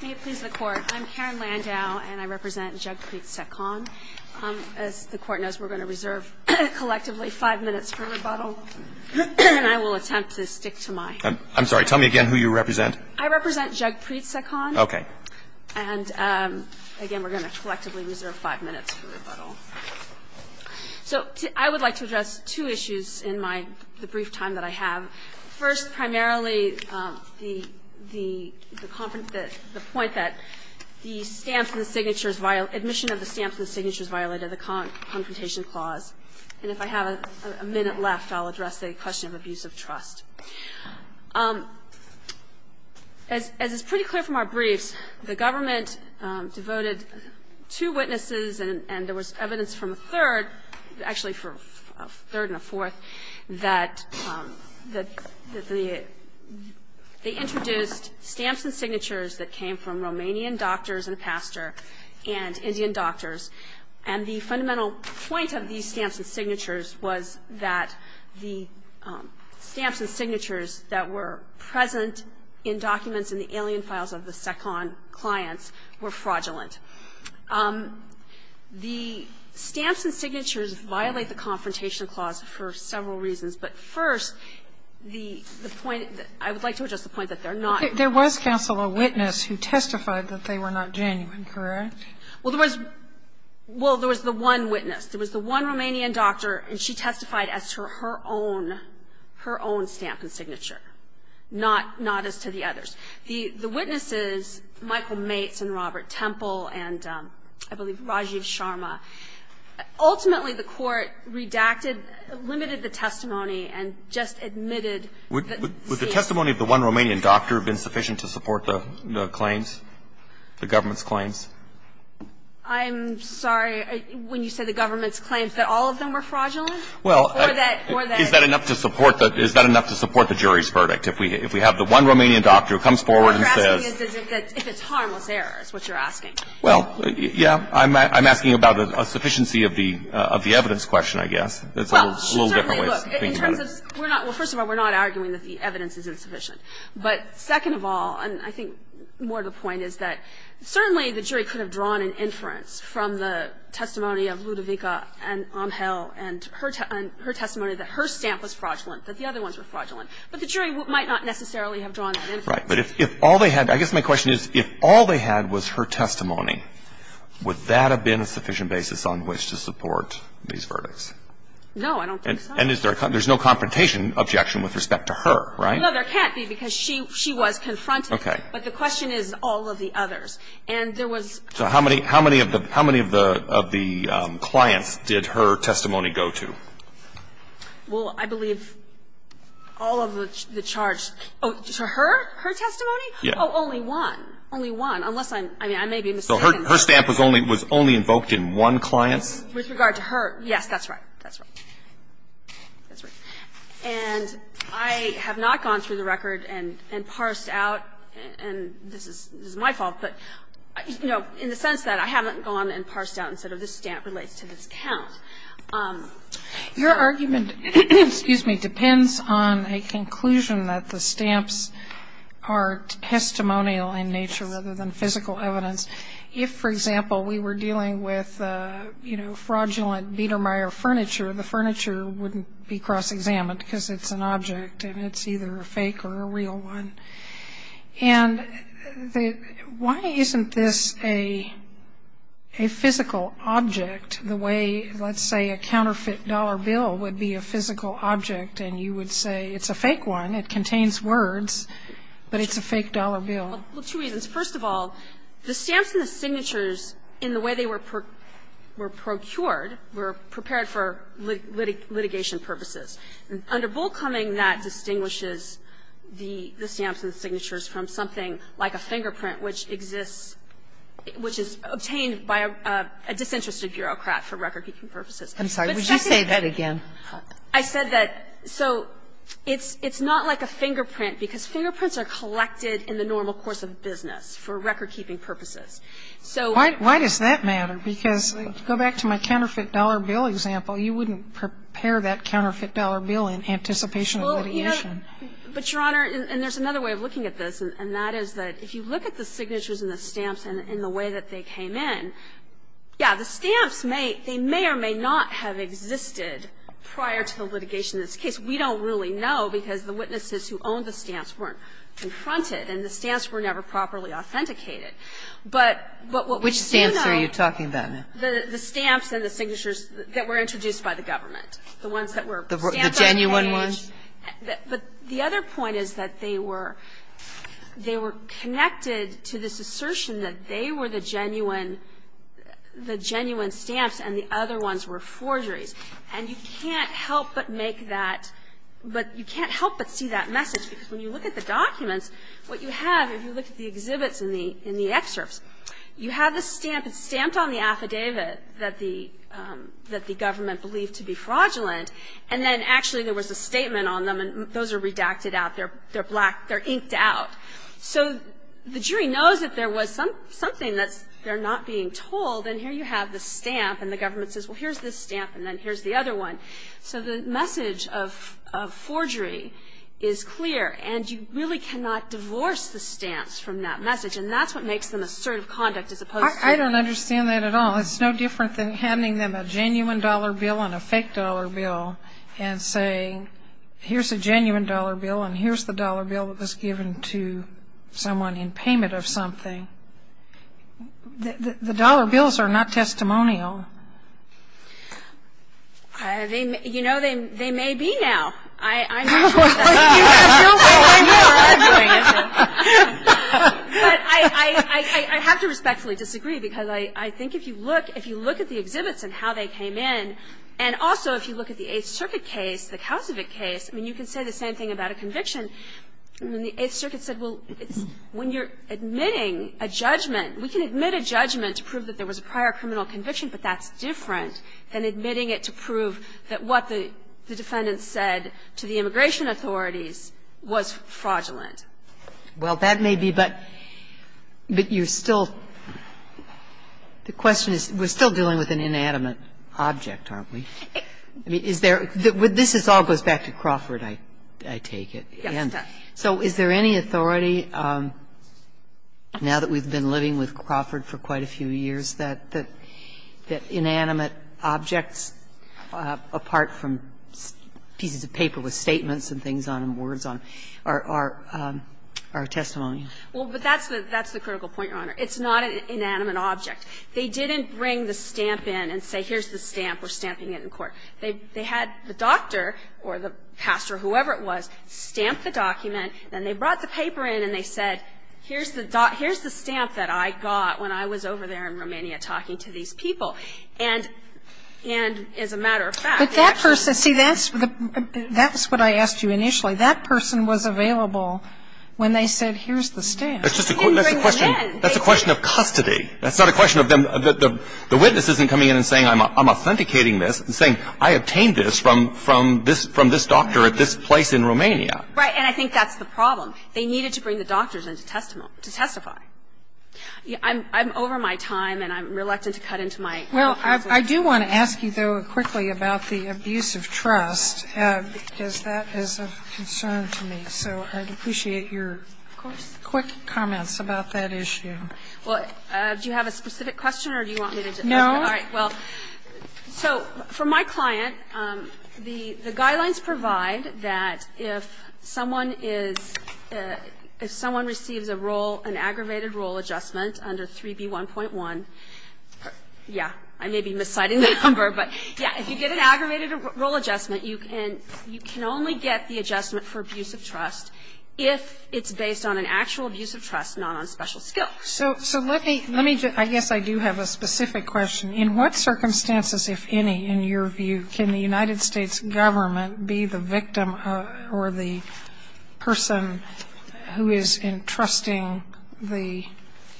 May it please the Court, I'm Karen Landau, and I represent Jagpreet Sekhon. As the Court knows, we're going to reserve collectively five minutes for rebuttal. And I will attempt to stick to my own. I'm sorry. Tell me again who you represent. I represent Jagpreet Sekhon. Okay. And, again, we're going to collectively reserve five minutes for rebuttal. So I would like to address two issues in the brief time that I have. First, primarily, the point that the stamps and the signatures, admission of the stamps and the signatures violated the Confrontation Clause. And if I have a minute left, I'll address the question of abuse of trust. As is pretty clear from our briefs, the government devoted two witnesses and there was evidence from a third, actually from a third and a fourth, that they introduced stamps and signatures that came from Romanian doctors and pastor and Indian doctors. And the fundamental point of these stamps and signatures was that the stamps and signatures that were present in documents in the alien files of the Sekhon clients were fraudulent. The stamps and signatures violate the Confrontation Clause for several reasons. But first, the point that they're not genuine. Sotomayor, there was, Counsel, a witness who testified that they were not genuine, correct? Well, there was the one witness. There was the one Romanian doctor, and she testified as to her own, her own stamp and signature, not as to the others. The witnesses, Michael Mates and Robert Temple and, I believe, Rajiv Sharma, ultimately the Court redacted, limited the testimony and just admitted that the stamp Would the testimony of the one Romanian doctor have been sufficient to support the claims, the government's claims? I'm sorry, when you say the government's claims, that all of them were fraudulent? Well, is that enough to support the jury's verdict? If we have the one Romanian doctor who comes forward and says What you're asking is if it's harmless error, is what you're asking. Well, yeah, I'm asking about a sufficiency of the evidence question, I guess. It's a little different way of thinking about it. Well, first of all, we're not arguing that the evidence is insufficient. But second of all, and I think more to the point, is that certainly the jury could have drawn an inference from the testimony of Ludovica and Amhel and her testimony that her stamp was fraudulent, that the other ones were fraudulent. But the jury might not necessarily have drawn that inference. Right. But if all they had, I guess my question is, if all they had was her testimony, would that have been a sufficient basis on which to support these verdicts? No, I don't think so. And is there a con – there's no confrontation objection with respect to her, right? No, there can't be, because she was confronted. Okay. But the question is all of the others. And there was So how many of the clients did her testimony go to? Well, I believe all of the charged – oh, to her, her testimony? Yeah. Oh, only one. Only one. Unless I'm – I mean, I may be mistaken. So her stamp was only invoked in one client? With regard to her, yes, that's right. That's right. That's right. And I have not gone through the record and parsed out, and this is my fault, but, you know, in the sense that I haven't gone and parsed out and said, this stamp relates to this count. Your argument, excuse me, depends on a conclusion that the stamps are testimonial in nature rather than physical evidence. If, for example, we were dealing with, you know, fraudulent Biedermeier furniture, the furniture wouldn't be cross-examined, because it's an object, and it's either a fake or a real one. And why isn't this a physical object, the way, let's say, a counterfeit dollar bill would be a physical object, and you would say, it's a fake one, it contains words, but it's a fake dollar bill? Well, two reasons. First of all, the stamps and the signatures, in the way they were procured, were prepared for litigation purposes. Under Bullcoming, that distinguishes the stamps and the signatures from something like a fingerprint, which exists, which is obtained by a disinterested bureaucrat for recordkeeping purposes. But second of all they are collected in the normal course of business for recordkeeping purposes. So why does that matter, because if you go back to my counterfeit dollar bill example, you wouldn't prepare that counterfeit dollar bill in anticipation of litigation. But, Your Honor, and there's another way of looking at this, and that is that if you look at the signatures and the stamps and the way that they came in, yeah, the stamps may, they may or may not have existed prior to the litigation in this case. We don't really know, because the witnesses who owned the stamps weren't confronted, and the stamps were never properly authenticated. But what we do know Which stamps are you talking about, ma'am? The stamps and the signatures that were introduced by the government, the ones that were stamped on the page. The genuine ones? But the other point is that they were, they were connected to this assertion that they were the genuine, the genuine stamps, and the other ones were forgeries. And you can't help but make that, but you can't help but see that message, because when you look at the documents, what you have, if you look at the exhibits and the that the government believed to be fraudulent, and then actually there was a statement on them, and those are redacted out, they're black, they're inked out, so the jury knows that there was something that's, they're not being told, and here you have the stamp, and the government says, well, here's this stamp, and then here's the other one. So the message of forgery is clear, and you really cannot divorce the stamps from that message, and that's what makes them assertive conduct as opposed to I don't understand that at all. It's no different than handing them a genuine dollar bill and a fake dollar bill and saying, here's a genuine dollar bill, and here's the dollar bill that was given to someone in payment of something. The dollar bills are not testimonial. They may, you know, they may be now. I'm not sure if that's the case. You have bills that way now. I'm doing it now. But I have to respectfully disagree, because I think if you look, if you look at the exhibits and how they came in, and also if you look at the Eighth Circuit case, the Kausovik case, I mean, you can say the same thing about a conviction. I mean, the Eighth Circuit said, well, when you're admitting a judgment, we can admit a judgment to prove that there was a prior criminal conviction, but that's different than admitting it to prove that what the defendant said to the immigration authorities was fraudulent. the case, and I think that's the case, and I think that's the case. Well, that may be, but you're still the question is, we're still dealing with an inanimate object, aren't we? I mean, is there the this all goes back to Crawford, I take it. So is there any authority, now that we've been living with Crawford for quite a few years, that inanimate objects, apart from pieces of paper with statements and things on them, words on them, are testimony? Well, but that's the critical point, Your Honor. It's not an inanimate object. They didn't bring the stamp in and say, here's the stamp, we're stamping it in court. They had the doctor or the pastor, whoever it was, stamp the document, then they brought the paper in and they said, here's the stamp that I got when I was over there in Romania talking to these people. And as a matter of fact, they actually But that person, see, that's what I asked you initially. That person was available when they said, here's the stamp. They didn't bring it in. That's a question of custody. That's not a question of them, the witness isn't coming in and saying, I'm authenticating this and saying, I obtained this from this doctor at this place in Romania. Right. And I think that's the problem. They needed to bring the doctors in to testify. I'm over my time and I'm reluctant to cut into my time. Well, I do want to ask you, though, quickly about the abuse of trust, because that is of concern to me. So I'd appreciate your quick comments about that issue. Well, do you have a specific question or do you want me to just No. All right. Well, so for my client, the guidelines provide that if someone is If someone receives a role, an aggravated role adjustment under 3B1.1, yeah, I may be misciting the number, but yeah, if you get an aggravated role adjustment, you can only get the adjustment for abuse of trust if it's based on an actual abuse of trust, not on special skills. So let me, I guess I do have a specific question. In what circumstances, if any, in your view, can the United States government be the victim or the person who is entrusting the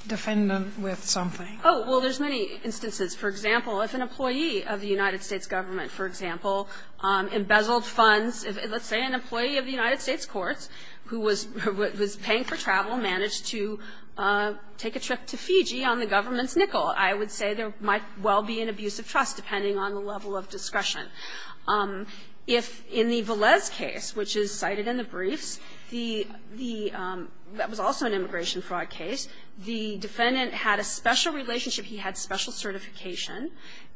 defendant with something? Oh, well, there's many instances. For example, if an employee of the United States government, for example, embezzled funds, let's say an employee of the United States courts who was paying for travel managed to take a trip to Fiji on the government's nickel, I would say there might well be an abuse of trust, depending on the level of discretion. If in the Velez case, which is cited in the briefs, the the that was also an immigration fraud case, the defendant had a special relationship, he had special certification,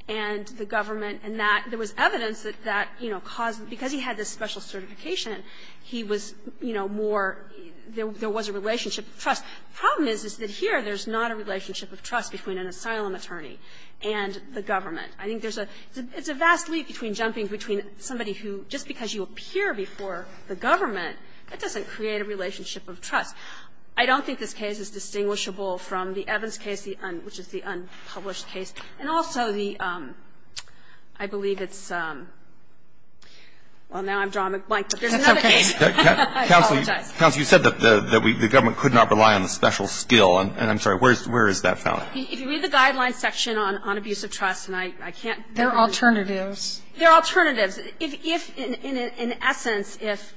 and the government and that there was evidence that that, you know, caused because he had this special certification, he was, you know, more, there was a relationship of trust. The problem is that here there's not a relationship of trust between an asylum attorney and the government. I think there's a, it's a vast leap between jumping between somebody who, just because you appear before the government, that doesn't create a relationship of trust. I don't think this case is distinguishable from the Evans case, which is the unpublished case. And also the, I believe it's, well, now I've drawn a blank, but there's another case. I apologize. Counsel, you said that the government could not rely on the special skill. And I'm sorry, where is that found? If you read the guidelines section on abuse of trust, and I can't. They're alternatives. They're alternatives. If, in essence, if,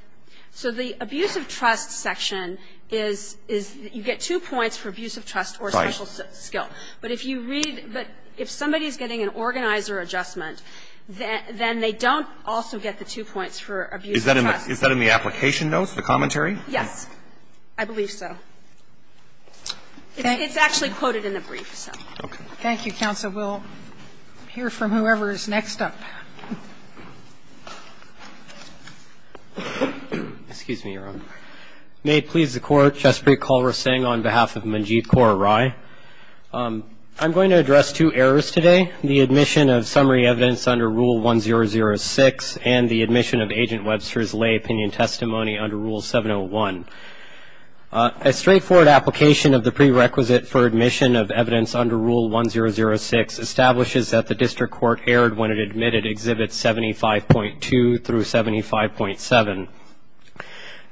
so the abuse of trust section is, is you get two points for abuse of trust or special skill. But if you read, but if somebody's getting an organizer adjustment, then they don't also get the two points for abuse of trust. Is that in the application notes, the commentary? Yes, I believe so. It's actually quoted in the brief, so. Okay. Thank you, counsel. We'll hear from whoever is next up. Excuse me, Your Honor. May it please the Court. Chesapree Kulrasingh on behalf of Manjeet Kaur Rai. I'm going to address two errors today, the admission of summary evidence under Rule 1006 and the admission of Agent Webster's lay opinion testimony under Rule 701. A straightforward application of the prerequisite for admission of evidence under Rule 1006 establishes that the district court erred when it admitted Exhibit 75.2 through 75.7.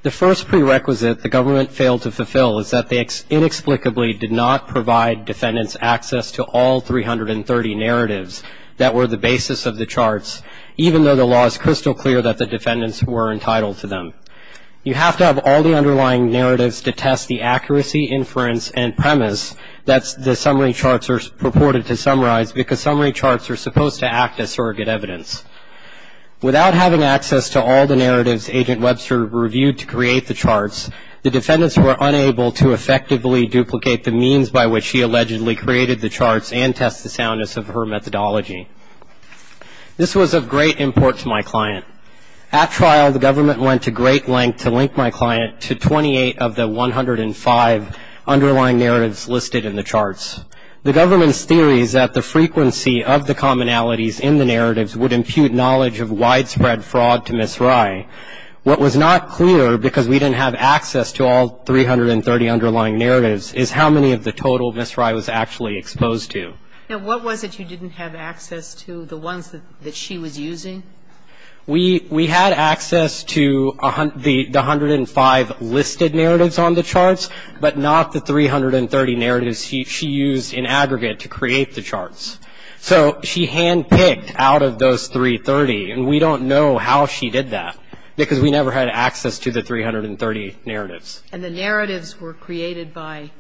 The first prerequisite the government failed to fulfill is that they inexplicably did not provide defendants access to all 330 narratives that were the basis of the charts, even though the law is crystal clear that the defendants were entitled to them. You have to have all the underlying narratives to test the accuracy, inference, and premise that the summary charts are purported to summarize, because summary charts are supposed to act as surrogate evidence. Without having access to all the narratives Agent Webster reviewed to create the charts, the defendants were unable to effectively duplicate the means by which she allegedly created the charts and test the soundness of her methodology. This was of great import to my client. At trial, the government went to great length to link my client to 28 of the 105 underlying narratives listed in the charts. The government's theory is that the frequency of the commonalities in the narratives would impute knowledge of widespread fraud to Ms. Rye. What was not clear, because we didn't have access to all 330 underlying narratives, is how many of the total Ms. Rye was actually exposed to. Now, what was it you didn't have access to, the ones that she was using? We had access to the 105 listed narratives on the charts, but not the 330 narratives she used in aggregate to create the charts. So she handpicked out of those 330, and we don't know how she did that, because we never had access to the 330 narratives. And the narratives were created by?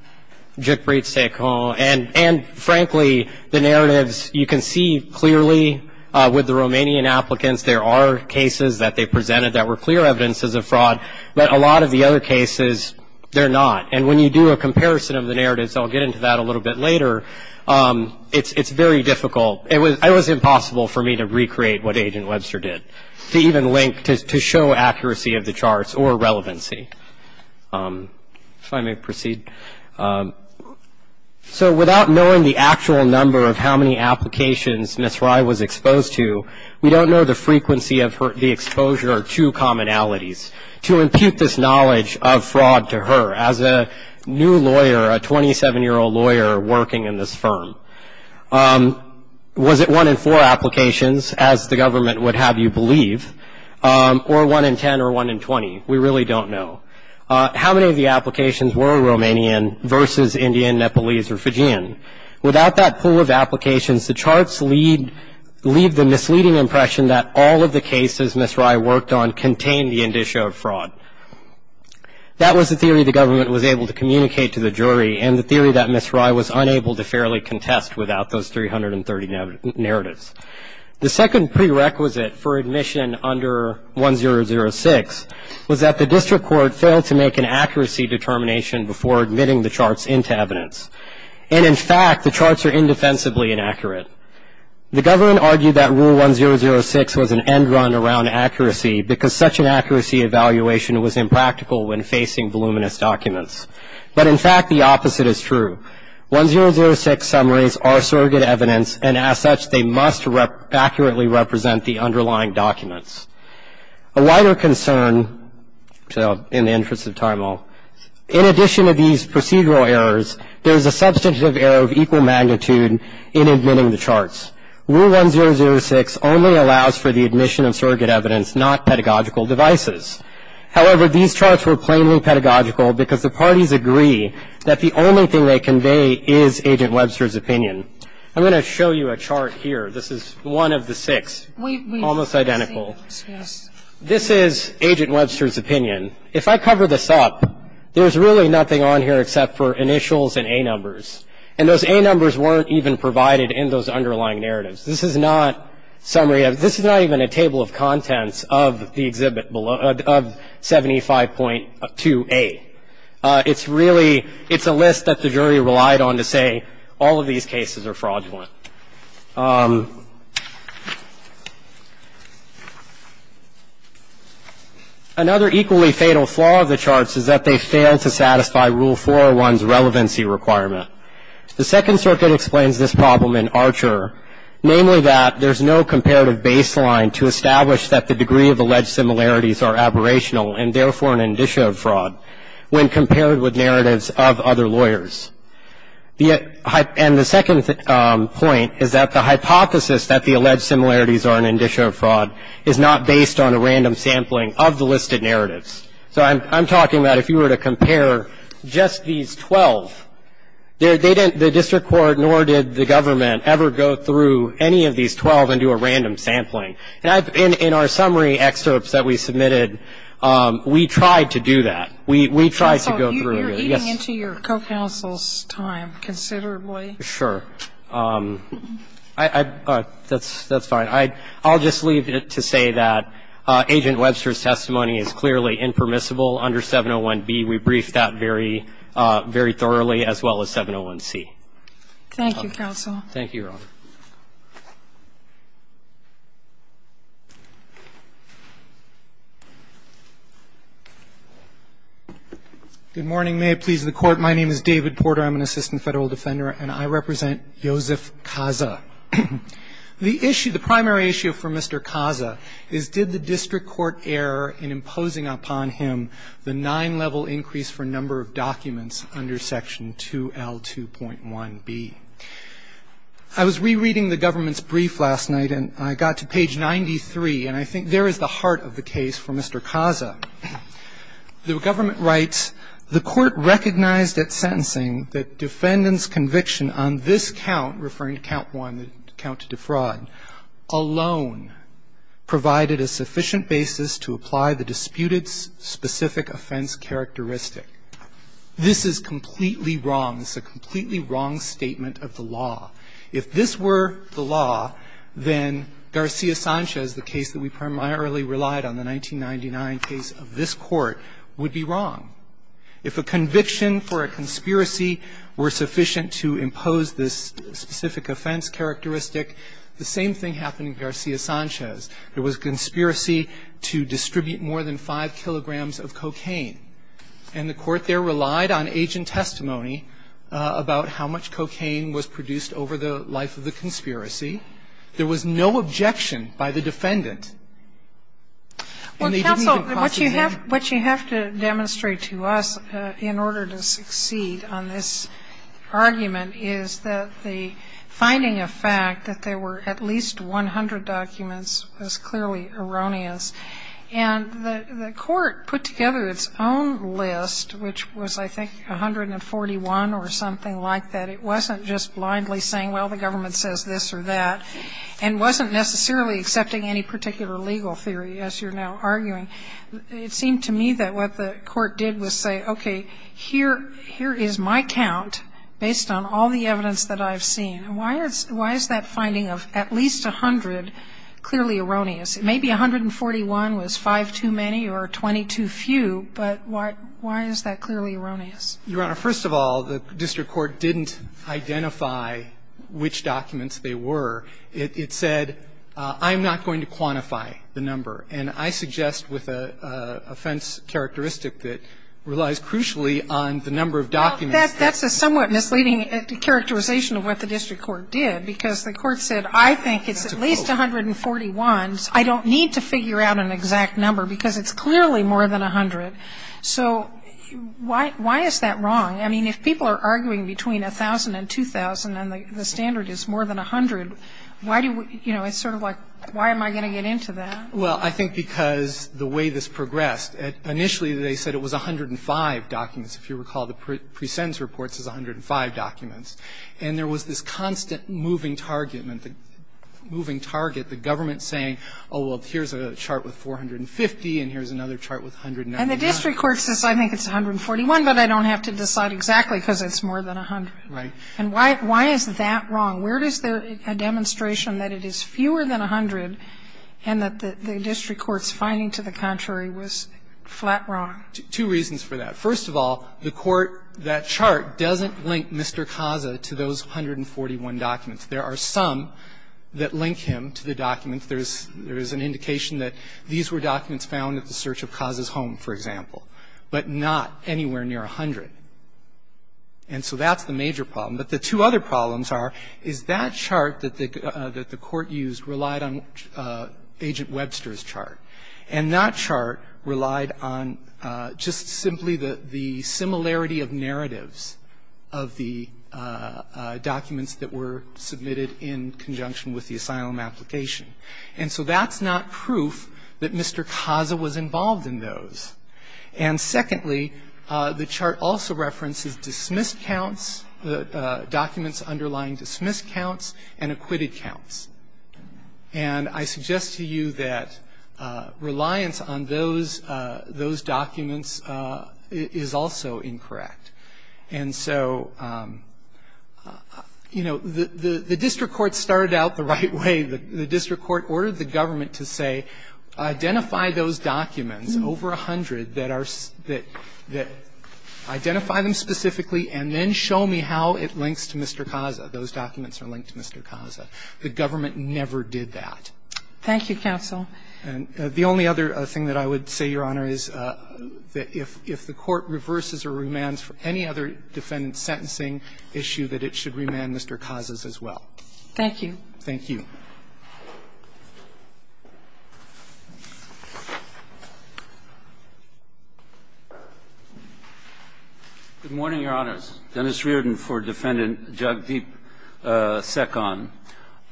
And frankly, the narratives, you can see clearly with the Romanian applicants, there are cases that they presented that were clear evidences of fraud, but a lot of the other cases, they're not. And when you do a comparison of the narratives, I'll get into that a little bit later, it's very difficult. It was impossible for me to recreate what Agent Webster did, to even link, to show accuracy of the charts or relevancy. If I may proceed. So without knowing the actual number of how many applications Ms. Rye was exposed to, we don't know the frequency of the exposure to commonalities. To impute this knowledge of fraud to her as a new lawyer, a 27-year-old lawyer working in this firm, was it one in four applications, as the government would have you believe, or one in 10 or one in 20? We really don't know. How many of the applications were Romanian versus Indian, Nepalese, or Fijian? Without that pool of applications, the charts leave the misleading impression that all of the cases Ms. Rye worked on contained the indicia of fraud. That was the theory the government was able to communicate to the jury, and the theory that Ms. Rye was unable to fairly contest without those 330 narratives. The second prerequisite for admission under 1006 was that the district court failed to make an accuracy determination before admitting the charts into evidence, and in fact, the charts are indefensibly inaccurate. The government argued that rule 1006 was an end run around accuracy, because such an accuracy evaluation was impractical when facing voluminous documents. But in fact, the opposite is true. 1006 summaries are surrogate evidence, and as such, they must accurately represent the underlying documents. A wider concern, so in the interest of time, I'll. In addition to these procedural errors, there's a substantive error of equal magnitude in admitting the charts. Rule 1006 only allows for the admission of surrogate evidence, not pedagogical devices. However, these charts were plainly pedagogical because the parties agree that the only thing they convey is Agent Webster's opinion. I'm going to show you a chart here. This is one of the six. Almost identical. This is Agent Webster's opinion. If I cover this up, there's really nothing on here except for initials and A numbers. And those A numbers weren't even provided in those underlying narratives. This is not summary of – this is not even a table of contents of the exhibit below – of 75.2A. It's really – it's a list that the jury relied on to say all of these cases are fraudulent. Another equally fatal flaw of the charts is that they fail to satisfy Rule 401's relevancy requirement. The Second Circuit explains this problem in Archer, namely that there's no comparative baseline to establish that the degree of alleged similarities are aberrational and, therefore, an indicia of fraud when compared with narratives of other lawyers. And the second point is that the hypothesis that the alleged similarities are an indicia of fraud is not based on a random sampling of the listed narratives. So I'm talking about if you were to compare just these 12, they didn't – the district court nor did the government ever go through any of these 12 and do a random sampling. And in our summary excerpts that we submitted, we tried to do that. We tried to go through it. You seem to have gone deep into your co-counsel's time considerably. Sure. I – that's fine. I'll just leave it to say that Agent Webster's testimony is clearly impermissible under 701B. We briefed that very thoroughly as well as 701C. Thank you, Counsel. Thank you, Your Honor. Good morning. May it please the Court, my name is David Porter. I'm an Assistant Federal Defender, and I represent Yosef Kaza. The issue – the primary issue for Mr. Kaza is did the district court err in imposing upon him the nine-level increase for number of documents under Section 2L2.1B. I was rereading the government's brief last night, and I got to page 93, and I think there is the heart of the case for Mr. Kaza. The government writes, The court recognized at sentencing that defendant's conviction on this count, referring to count 1, the count to defraud, alone provided a sufficient basis to apply the disputed specific offense characteristic. This is completely wrong. It's a completely wrong statement of the law. If this were the law, then Garcia-Sanchez, the case that we primarily relied on, the 1999 case of this Court, would be wrong. If a conviction for a conspiracy were sufficient to impose this specific offense characteristic, the same thing happened in Garcia-Sanchez. There was a conspiracy to distribute more than 5 kilograms of cocaine, and the court there relied on agent testimony about how much cocaine was produced over the life of the conspiracy. There was no objection by the defendant. And they didn't even pause the hearing. Sotomayor, what you have to demonstrate to us in order to succeed on this argument is that the finding of fact that there were at least 100 documents was clearly erroneous. And the court put together its own list, which was, I think, 141 or something like that. It wasn't just blindly saying, well, the government says this or that, and wasn't necessarily accepting any particular legal theory, as you're now arguing. It seemed to me that what the court did was say, okay, here is my count based on all the evidence that I've seen. Why is that finding of at least 100 clearly erroneous? Maybe 141 was 5 too many or 20 too few, but why is that clearly erroneous? Your Honor, first of all, the district court didn't identify which documents they were. It said, I'm not going to quantify the number. And I suggest with an offense characteristic that relies crucially on the number of documents that's there. Well, that's a somewhat misleading characterization of what the district court did, because the court said, I think it's at least 141. I don't need to figure out an exact number, because it's clearly more than 100. So why is that wrong? I mean, if people are arguing between 1,000 and 2,000 and the standard is more than 100, why do we – you know, it's sort of like, why am I going to get into that? Well, I think because the way this progressed, initially they said it was 105 documents. If you recall, the presents reports is 105 documents. And there was this constant moving target, moving target, the government saying, oh, well, here's a chart with 450 and here's another chart with 190. And the district court says, I think it's 141, but I don't have to decide exactly because it's more than 100. Right. And why is that wrong? Where is there a demonstration that it is fewer than 100 and that the district court's finding to the contrary was flat wrong? Two reasons for that. First of all, the court – that chart doesn't link Mr. Kasa to those 141 documents. There are some that link him to the documents. There is an indication that these were documents found at the search of Kasa's home, for example, but not anywhere near 100. And so that's the major problem. But the two other problems are, is that chart that the court used relied on Agent the similarity of narratives of the documents that were submitted in conjunction with the asylum application. And so that's not proof that Mr. Kasa was involved in those. And secondly, the chart also references dismissed counts, documents underlying dismissed counts and acquitted counts. And I suggest to you that reliance on those – those documents is also incorrect. And so, you know, the district court started out the right way. The district court ordered the government to say, identify those documents, over 100, that are – that – identify them specifically and then show me how it links to Mr. Kasa. Those documents are linked to Mr. Kasa. The government never did that. Thank you, counsel. And the only other thing that I would say, Your Honor, is that if – if the court reverses or remands for any other defendant's sentencing issue, that it should remand Mr. Kasa's as well. Thank you. Thank you. Good morning, Your Honors. Dennis Riordan for Defendant Jagdeep Sekhon.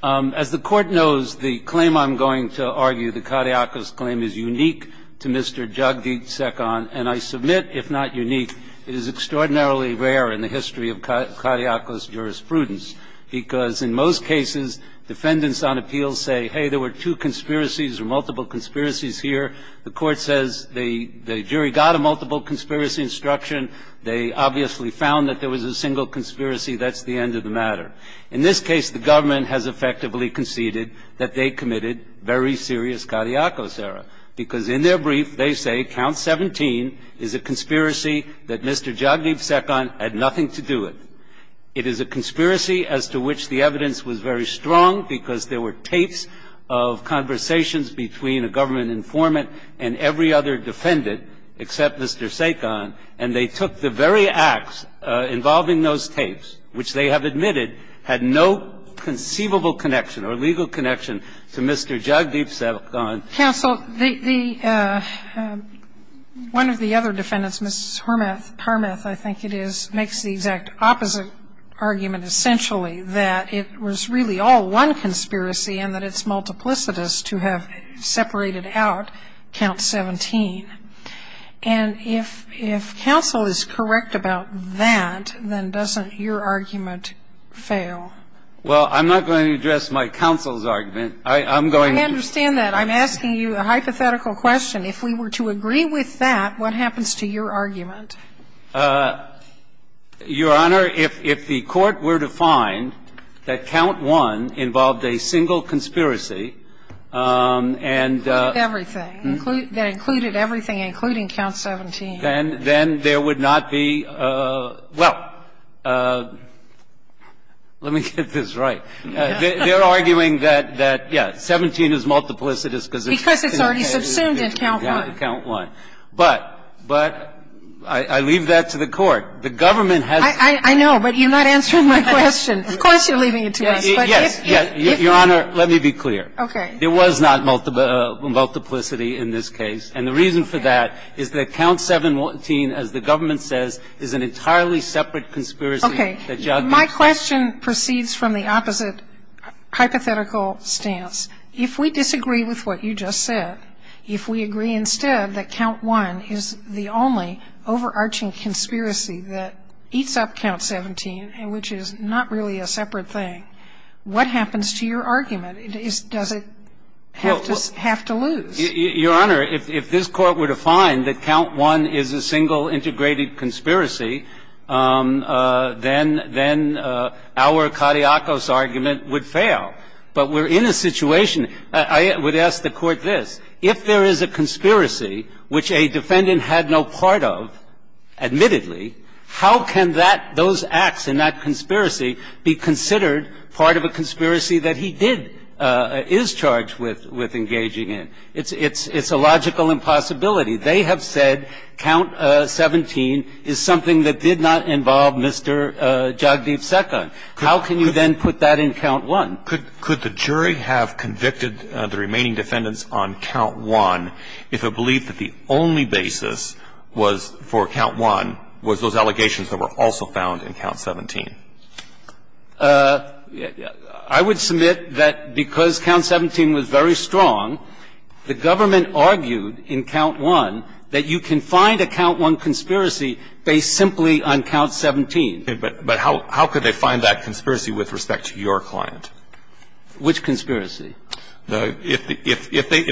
As the Court knows, the claim I'm going to argue, the Kadiakos claim, is unique to Mr. Jagdeep Sekhon. And I submit, if not unique, it is extraordinarily rare in the history of Kadiakos jurisprudence, because in most cases, defendants on appeal say, hey, there were two conspiracies or multiple conspiracies here. The Court says the jury got a multiple conspiracy instruction. They obviously found that there was a single conspiracy. That's the end of the matter. In this case, the government has effectively conceded that they committed very serious Kadiakos error, because in their brief, they say count 17 is a conspiracy that Mr. Jagdeep Sekhon had nothing to do with. It is a conspiracy as to which the evidence was very strong, because there were tapes of conversations between a government informant and every other defendant except Mr. Sekhon, and they took the very acts involving those tapes, which they have admitted had no conceivable connection or legal connection to Mr. Jagdeep Sekhon. Sotomayor, the one of the other defendants, Ms. Harmath, I think it is, makes the exact opposite argument, essentially, that it was really all one conspiracy and that it's multiplicitous to have separated out count 17. And if counsel is correct about that, then doesn't your argument fail? Well, I'm not going to address my counsel's argument. I'm going to do it. I understand that. I'm asking you a hypothetical question. If we were to agree with that, what happens to your argument? Your Honor, if the Court were to find that count 1 involved a single conspiracy and the other one involved a single conspiracy, and that included everything including count 17? Then there would not be – well, let me get this right. They're arguing that, yes, 17 is multiplicitous because it's already subsumed Because it's already subsumed in count 1. But I leave that to the Court. The government has to be clear. I know, but you're not answering my question. Of course you're leaving it to us. Yes. Your Honor, let me be clear. Okay. There was not multiplicity in this case. And the reason for that is that count 17, as the government says, is an entirely separate conspiracy. Okay. My question proceeds from the opposite hypothetical stance. If we disagree with what you just said, if we agree instead that count 1 is the only overarching conspiracy that eats up count 17, which is not really a separate thing, what happens to your argument? Does it have to lose? Your Honor, if this Court were to find that count 1 is a single integrated conspiracy, then our cadiacus argument would fail. But we're in a situation – I would ask the Court this. If there is a conspiracy which a defendant had no part of, admittedly, how can that – those acts in that conspiracy be considered part of a conspiracy that he did – is charged with engaging in? It's a logical impossibility. They have said count 17 is something that did not involve Mr. Jagdeep Sekhar. How can you then put that in count 1? Could the jury have convicted the remaining defendants on count 1 if it believed that the only basis for count 1 was those allegations that were also found in count 17? I would submit that because count 17 was very strong, the government argued in count 1 that you can find a count 1 conspiracy based simply on count 17. But how could they find that conspiracy with respect to your client? Which conspiracy? If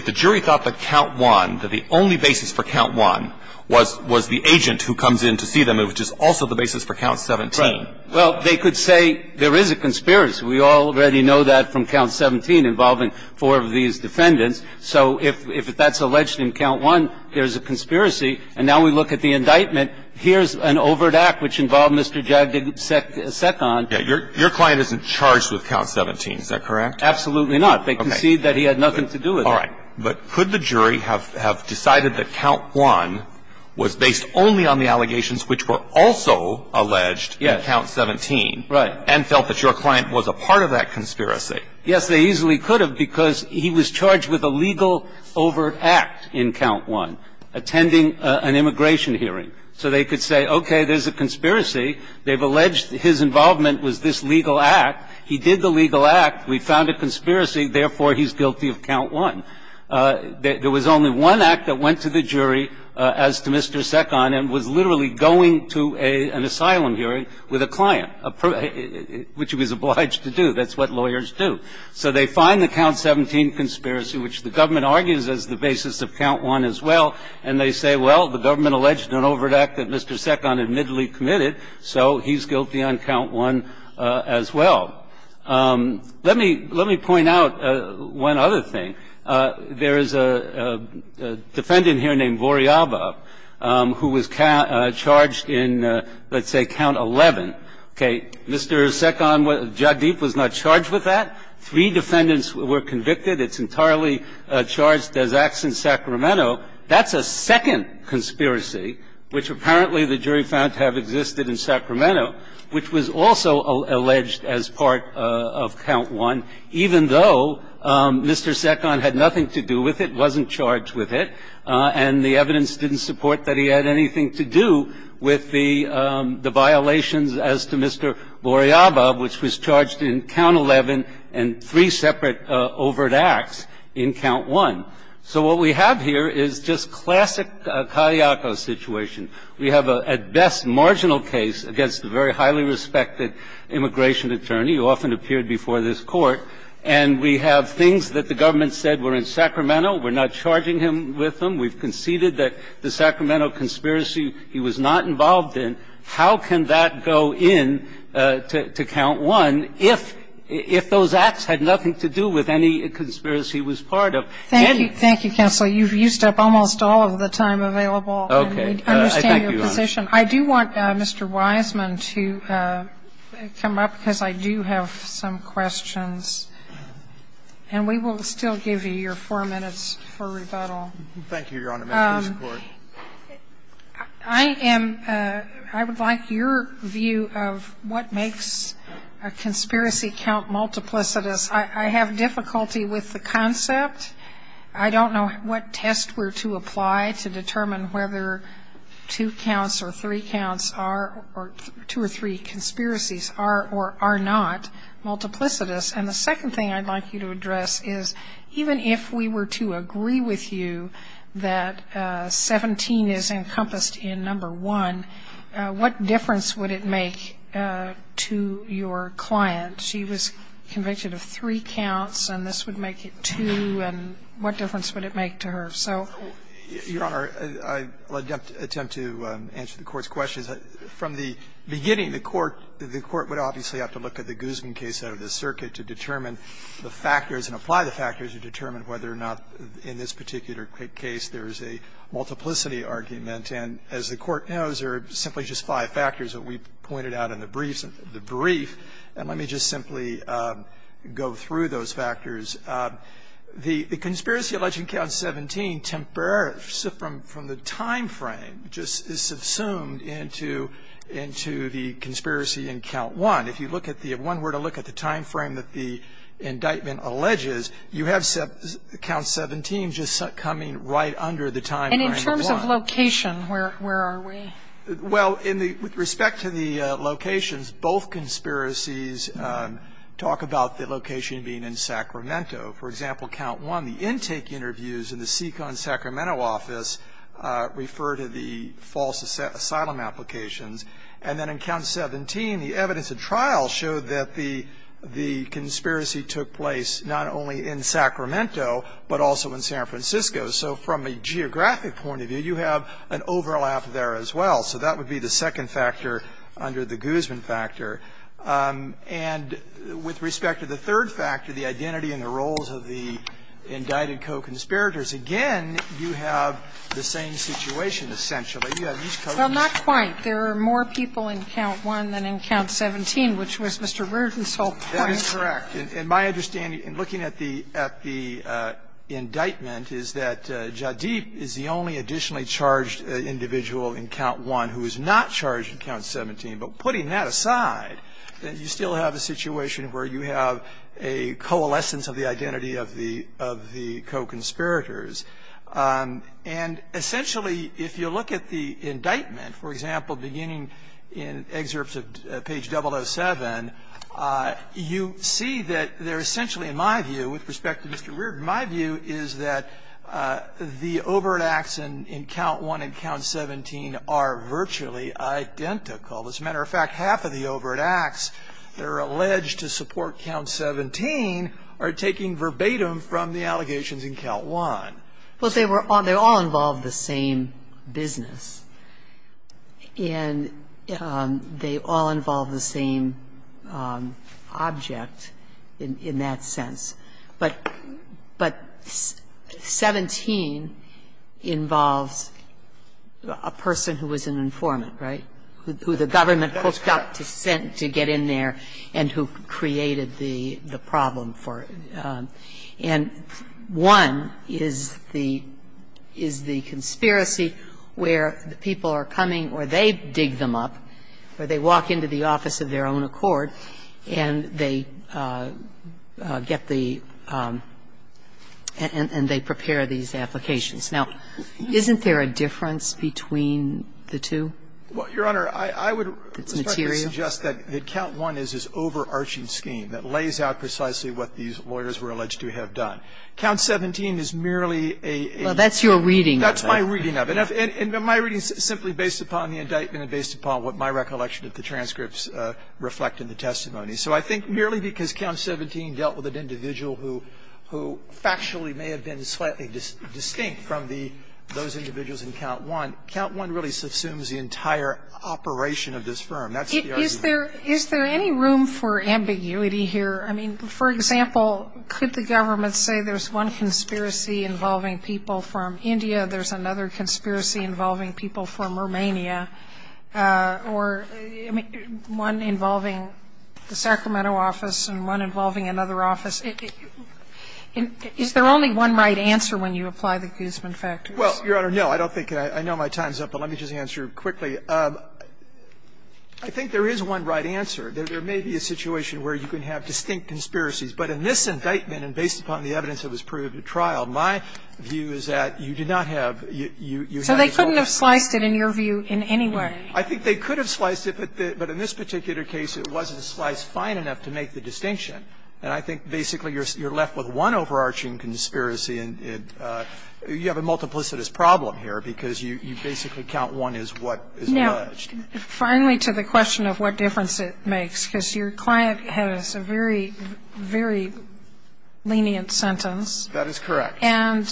the jury thought that count 1, that the only basis for count 1 was the agent who comes in to see them, it was just also the basis for count 17. Right. Well, they could say there is a conspiracy. We already know that from count 17 involving four of these defendants. So if that's alleged in count 1, there's a conspiracy. And now we look at the indictment. Here's an overt act which involved Mr. Jagdeep Sekhar. Yes. Your client isn't charged with count 17, is that correct? Absolutely not. They conceded that he had nothing to do with it. All right. But could the jury have decided that count 1 was based only on the allegations which were also alleged in count 17 and felt that your client was a part of that conspiracy? Yes, they easily could have because he was charged with a legal overt act in count 1, attending an immigration hearing. So they could say, okay, there's a conspiracy. They've alleged his involvement was this legal act. He did the legal act. We found a conspiracy. Therefore, he's guilty of count 1. There was only one act that went to the jury as to Mr. Sekhar and was literally going to an asylum hearing with a client, which he was obliged to do. That's what lawyers do. So they find the count 17 conspiracy, which the government argues is the basis of count 1 as well, and they say, well, the government alleged an overt act that Mr. Sekhar admittedly committed, so he's guilty on count 1 as well. Let me point out one other thing. There is a defendant here named Voriaba who was charged in, let's say, count 11. Okay. Mr. Sekhar, Jadip, was not charged with that. Three defendants were convicted. It's entirely charged as acts in Sacramento. That's a second conspiracy, which apparently the jury found to have existed in Sacramento, which was also alleged as part of count 1, even though Mr. Sekhar had nothing to do with it, wasn't charged with it, and the evidence didn't support that he had anything to do with the violations as to Mr. Voriaba, which was charged in count 11 and three separate overt acts in count 1. So what we have here is just classic Caliaco situation. We have a, at best, marginal case against a very highly respected immigration attorney, who often appeared before this court, and we have things that the government said were in Sacramento. We're not charging him with them. We've conceded that the Sacramento conspiracy he was not involved in. How can that go in to count 1 if those acts had nothing to do with any conspiracy he was part of? Thank you. Thank you, counsel. You've used up almost all of the time available. Okay. I understand your position. I do want Mr. Wiseman to come up, because I do have some questions. And we will still give you your four minutes for rebuttal. Thank you, Your Honor. I would like your view of what makes a conspiracy count multiplicitous. I have difficulty with the concept. I don't know what test were to apply to determine whether two counts or three counts or two or three conspiracies are or are not multiplicitous. And the second thing I'd like you to address is even if we were to agree with you that 17 is encompassed in number one, what difference would it make to your client? She was convicted of three counts, and this would make it two, and what difference would it make to her? Your Honor, I will attempt to answer the Court's questions. From the beginning, the Court would obviously have to look at the Guzman case out of the circuit to determine the factors and apply the factors to determine whether or not in this particular case there is a multiplicity argument. And as the Court knows, there are simply just five factors that we pointed out in the briefs, the brief. And let me just simply go through those factors. The conspiracy alleging count 17 temporarily, from the time frame, just is subsumed into the conspiracy in count one. If you look at the one where to look at the time frame that the indictment alleges, you have count 17 just coming right under the time frame of one. And in terms of location, where are we? Well, in the – with respect to the locations, both conspiracies talk about the location being in Sacramento. For example, count one, the intake interviews in the Seacon, Sacramento, office refer to the false asylum applications. And then in count 17, the evidence of trial showed that the conspiracy took place not only in Sacramento, but also in San Francisco. So from a geographic point of view, you have an overlap there as well. So that would be the second factor under the Guzman factor. And with respect to the third factor, the identity and the roles of the indicted co-conspirators, again, you have the same situation, essentially. You have these co-conspirators. Sotomayor, there are more people in count one than in count 17, which was Mr. Reardon's whole point. That is correct. And my understanding, in looking at the indictment, is that Jadip is the only additionally charged individual in count one who is not charged in count 17. But putting that aside, you still have a situation where you have a coalescence of the identity of the co-conspirators. And essentially, if you look at the indictment, for example, beginning in excerpts of page 007, you see that they're essentially, in my view, with respect to Mr. Reardon, my view is that the overt acts in count one and count 17 are virtually identical. As a matter of fact, half of the overt acts that are alleged to support count 17 are taking verbatim from the allegations in count one. Well, they were all they all involved the same business. And they all involve the same object in that sense. But 17 involves a person who was an informant, right, who the government, of course, got to send to get in there and who created the problem for it. And one is the conspiracy where the people are coming or they dig them up or they walk into the office of their own accord and they get the and they prepare these applications. Now, isn't there a difference between the two? Well, Your Honor, I would suggest that count one is this overarching scheme that I've done. Count 17 is merely a That's your reading of it. That's my reading of it. And my reading is simply based upon the indictment and based upon what my recollection of the transcripts reflect in the testimony. So I think merely because count 17 dealt with an individual who factually may have been slightly distinct from the those individuals in count one, count one really subsumes the entire operation of this firm. That's the argument. Is there any room for ambiguity here? I mean, for example, could the government say there's one conspiracy involving people from India, there's another conspiracy involving people from Romania, or, I mean, one involving the Sacramento office and one involving another office? Is there only one right answer when you apply the Guzman factors? Well, Your Honor, no. I don't think so. I know my time is up, but let me just answer quickly. I think there is one right answer. There may be a situation where you can have distinct conspiracies, but in this indictment and based upon the evidence that was proved at trial, my view is that you do not have you have this whole discrepancy. So they couldn't have sliced it in your view in any way? I think they could have sliced it, but in this particular case it wasn't sliced fine enough to make the distinction. And I think basically you're left with one overarching conspiracy and you have a multiplicitous problem here because you basically count one as what is alleged. Finally, to the question of what difference it makes, because your client has a very, very lenient sentence. That is correct. And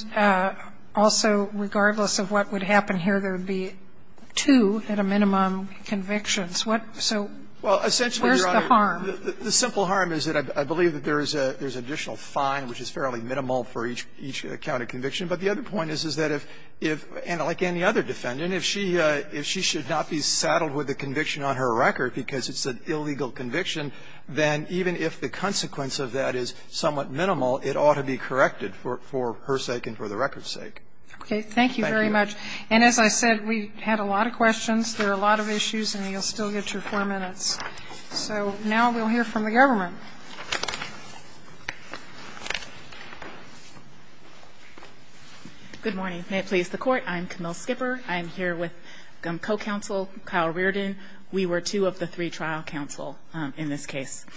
also, regardless of what would happen here, there would be two at a minimum convictions. What so where's the harm? Well, essentially, Your Honor, the simple harm is that I believe that there is an additional fine which is fairly minimal for each count of conviction. But the other point is, is that if, like any other defendant, if she should not be saddled with a conviction on her record because it's an illegal conviction, then even if the consequence of that is somewhat minimal, it ought to be corrected for her sake and for the record's sake. Okay. Thank you very much. And as I said, we had a lot of questions, there are a lot of issues, and you'll still get your four minutes. So now we'll hear from the government. Good morning. May it please the Court. I'm Camille Skipper. I'm here with co-counsel Kyle Reardon. We were two of the three trial counsel in this case.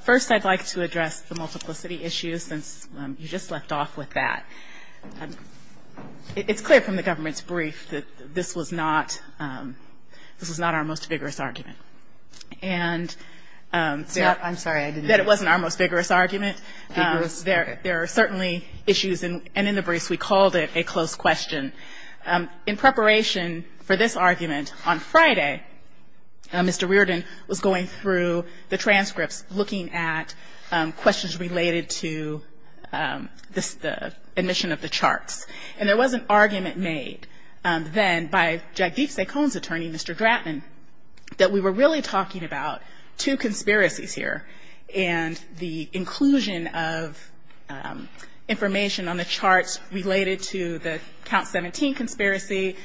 First, I'd like to address the multiplicity issues, since you just left off with that. It's clear from the government's brief that this was not our most vigorous argument, and that it wasn't our most vigorous argument. There are certainly issues, and in the briefs we called it a close question. In preparation for this argument, on Friday, Mr. Reardon was going through the transcripts, looking at questions related to the admission of the charts. And there was an argument made then by Jadveep Sekhon's attorney, Mr. Drattman, that we were really talking about two conspiracies here, and the inclusion of information on the charts related to the Count 17 conspiracy,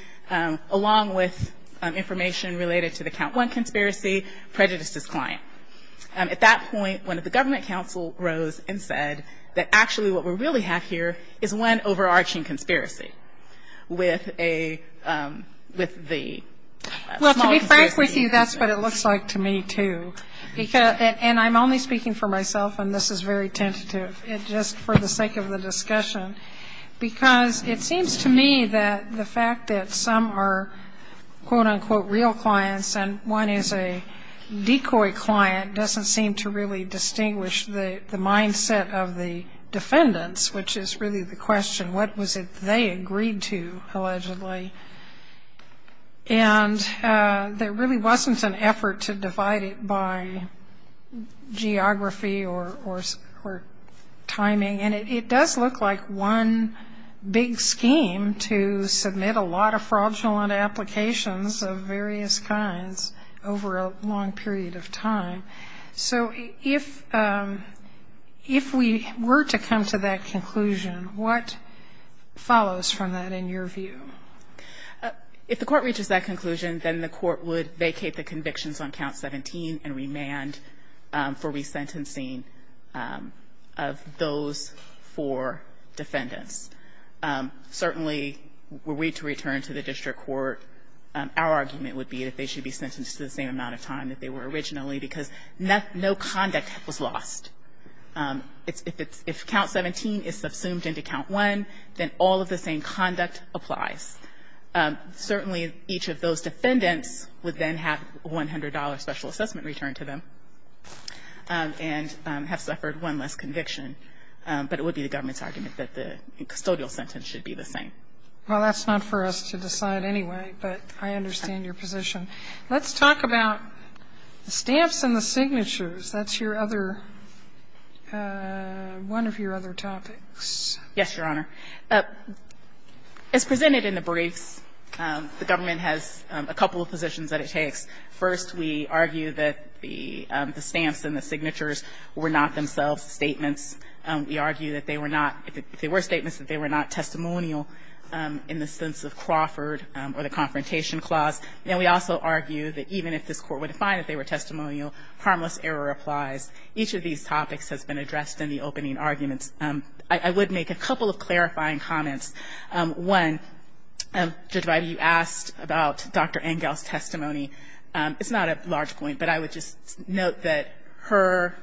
along with information related to the Count 1 conspiracy, prejudices client. At that point, one of the government counsel rose and said that actually what we really have here is one overarching conspiracy with a, with the small conspiracy. Well, to be frank with you, that's what it looks like to me, too. And I'm only speaking for myself, and this is very tentative. It's just for the sake of the discussion. Because it seems to me that the fact that some are quote unquote real clients, and one is a decoy client, doesn't seem to really distinguish the, the mindset of the defendants, which is really the question, what was it they agreed to, allegedly? And there really wasn't an effort to divide it by geography or, or, or timing, and it, it does look like one big scheme to submit a lot of fraudulent applications of various kinds over a long period of time. So if, if we were to come to that conclusion, what follows from that in your view? If the court reaches that conclusion, then the court would vacate the convictions on count 17 and remand for resentencing of those four defendants. Certainly, were we to return to the district court, our argument would be that they should be sentenced to the same amount of time that they were originally, because no conduct was lost. It's, if it's, if count 17 is subsumed into count 1, then all of the same conduct applies. Certainly, each of those defendants would then have a $100 special assessment return to them, and have suffered one less conviction. But it would be the government's argument that the custodial sentence should be the same. Well, that's not for us to decide anyway, but I understand your position. Let's talk about the stamps and the signatures. That's your other, one of your other topics. Yes, Your Honor. As presented in the briefs, the government has a couple of positions that it takes. First, we argue that the stamps and the signatures were not themselves statements. We argue that they were not, if they were statements, that they were not testimonial in the sense of Crawford or the Confrontation Clause. And we also argue that even if this court were to find that they were testimonial, harmless error applies. Each of these topics has been addressed in the opening arguments. I would make a couple of clarifying comments. One, Judge Vida, you asked about Dr. Engel's testimony. It's not a large point, but I would just note that her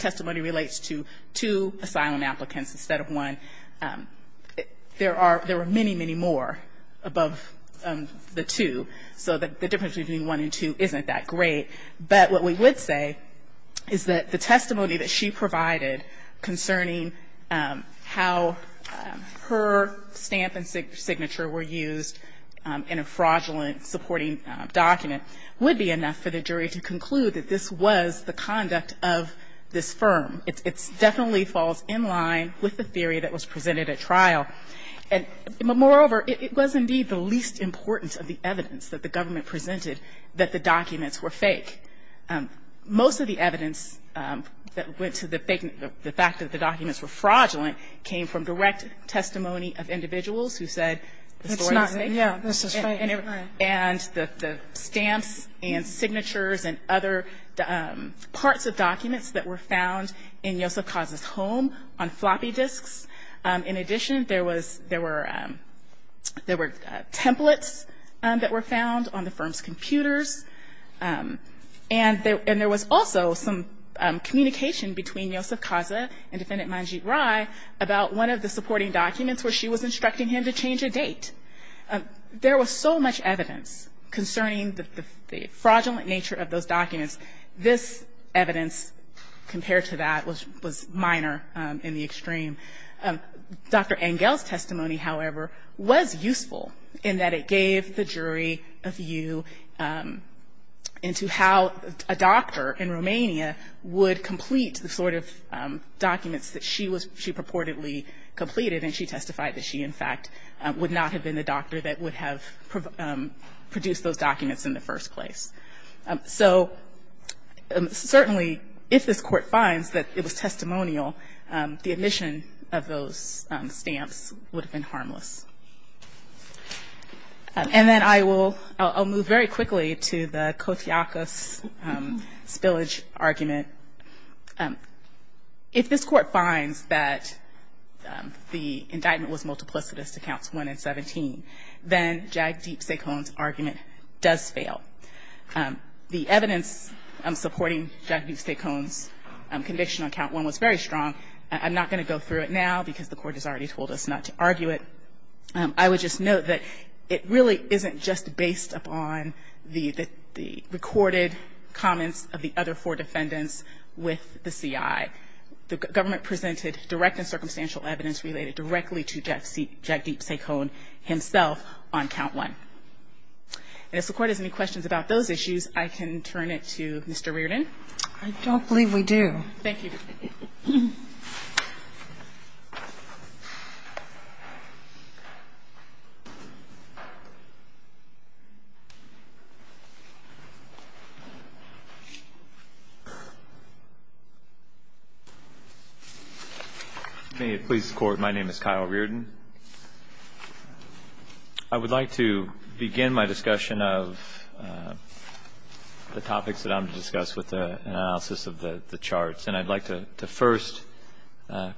testimony relates to two asylum applicants instead of one. There were many, many more above the two. So the difference between one and two isn't that great. But what we would say is that the testimony that she provided concerning how her stamp and signature were used in a fraudulent supporting document would be enough for the jury to conclude that this was the conduct of this firm. It definitely falls in line with the theory that was presented at trial. And moreover, it was indeed the least importance of the evidence that the government were fake. Most of the evidence that went to the fact that the documents were fraudulent came from direct testimony of individuals who said the story was fake. And the stamps and signatures and other parts of documents that were found in Yosef Kaz's home on floppy disks. In addition, there were templates that were found on the firm's computers. And there was also some communication between Yosef Kaza and Defendant Manjeet Rai about one of the supporting documents where she was instructing him to change a date. There was so much evidence concerning the fraudulent nature of those documents. This evidence compared to that was minor in the extreme. Dr. Engel's testimony, however, was useful in that it gave the jury a view of the evidence into how a doctor in Romania would complete the sort of documents that she purportedly completed and she testified that she, in fact, would not have been the doctor that would have produced those documents in the first place. So, certainly, if this court finds that it was testimonial, the admission of those stamps would have been harmless. And then I will move very quickly to the Kotiakos spillage argument. If this court finds that the indictment was multiplicitous to Counts 1 and 17, then Jagdeep Sekhon's argument does fail. The evidence supporting Jagdeep Sekhon's conviction on Count 1 was very strong. I'm not going to go through it now because the Court has already told us not to argue it. I would just note that it really isn't just based upon the recorded comments of the other four defendants with the CI. The government presented direct and circumstantial evidence related directly to Jagdeep Sekhon himself on Count 1. And if the Court has any questions about those issues, I can turn it to Mr. Reardon. I don't believe we do. Thank you. May it please the Court. My name is Kyle Reardon. I would like to begin my discussion of the topics that I'm going to discuss with an analysis of the charts. And I'd like to first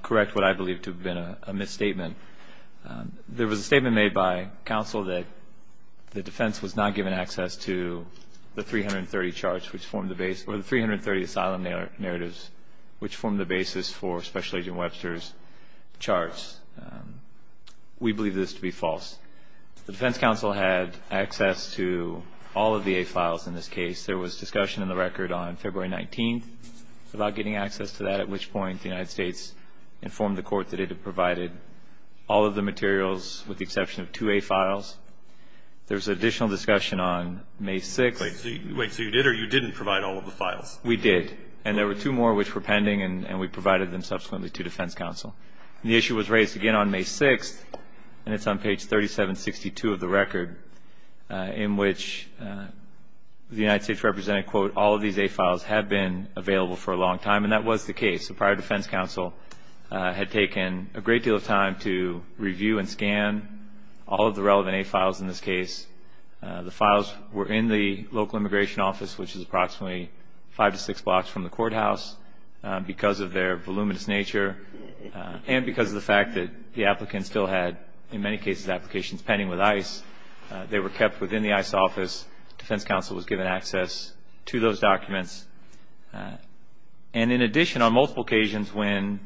correct what I believe to have been a misstatement. There was a statement made by counsel that the defense was not given access to the 330 charts, which formed the base, or the 330 asylum narratives, which formed the basis for Special Agent Webster's charts. We believe this to be false. The defense counsel had access to all of the A files in this case. There was discussion in the record on February 19th about getting access to that, at which point the United States informed the Court that it had provided all of the materials with the exception of two A files. There was additional discussion on May 6th. Wait, so you did or you didn't provide all of the files? We did. And there were two more which were pending, and we provided them subsequently to defense counsel. And the issue was raised again on May 6th, and it's on page 3762 of the record, in which the United States represented, quote, all of these A files have been available for a long time. And that was the case. The prior defense counsel had taken a great deal of time to review and scan all of the relevant A files in this case. The files were in the local immigration office, which is approximately five to six blocks from the courthouse, because of their voluminous nature and because of the fact that the they were kept within the ICE office. Defense counsel was given access to those documents. And in addition, on multiple occasions when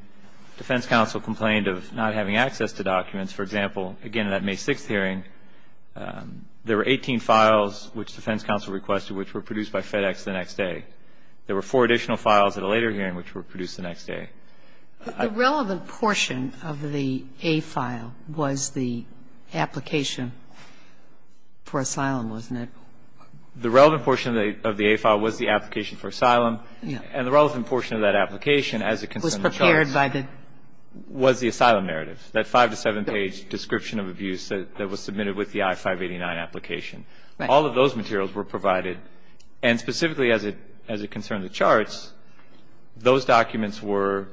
defense counsel complained of not having access to documents, for example, again, that May 6th hearing, there were 18 files which defense counsel requested which were produced by FedEx the next day. There were four additional files at a later hearing which were produced the next day. Sotomayor, the relevant portion of the A file was the application for asylum, wasn't it? The relevant portion of the A file was the application for asylum. And the relevant portion of that application, as it concerned the charts, was the asylum narrative, that five to seven page description of abuse that was submitted with the I-589 application. All of those materials were provided, and specifically as it concerned the charts, those documents were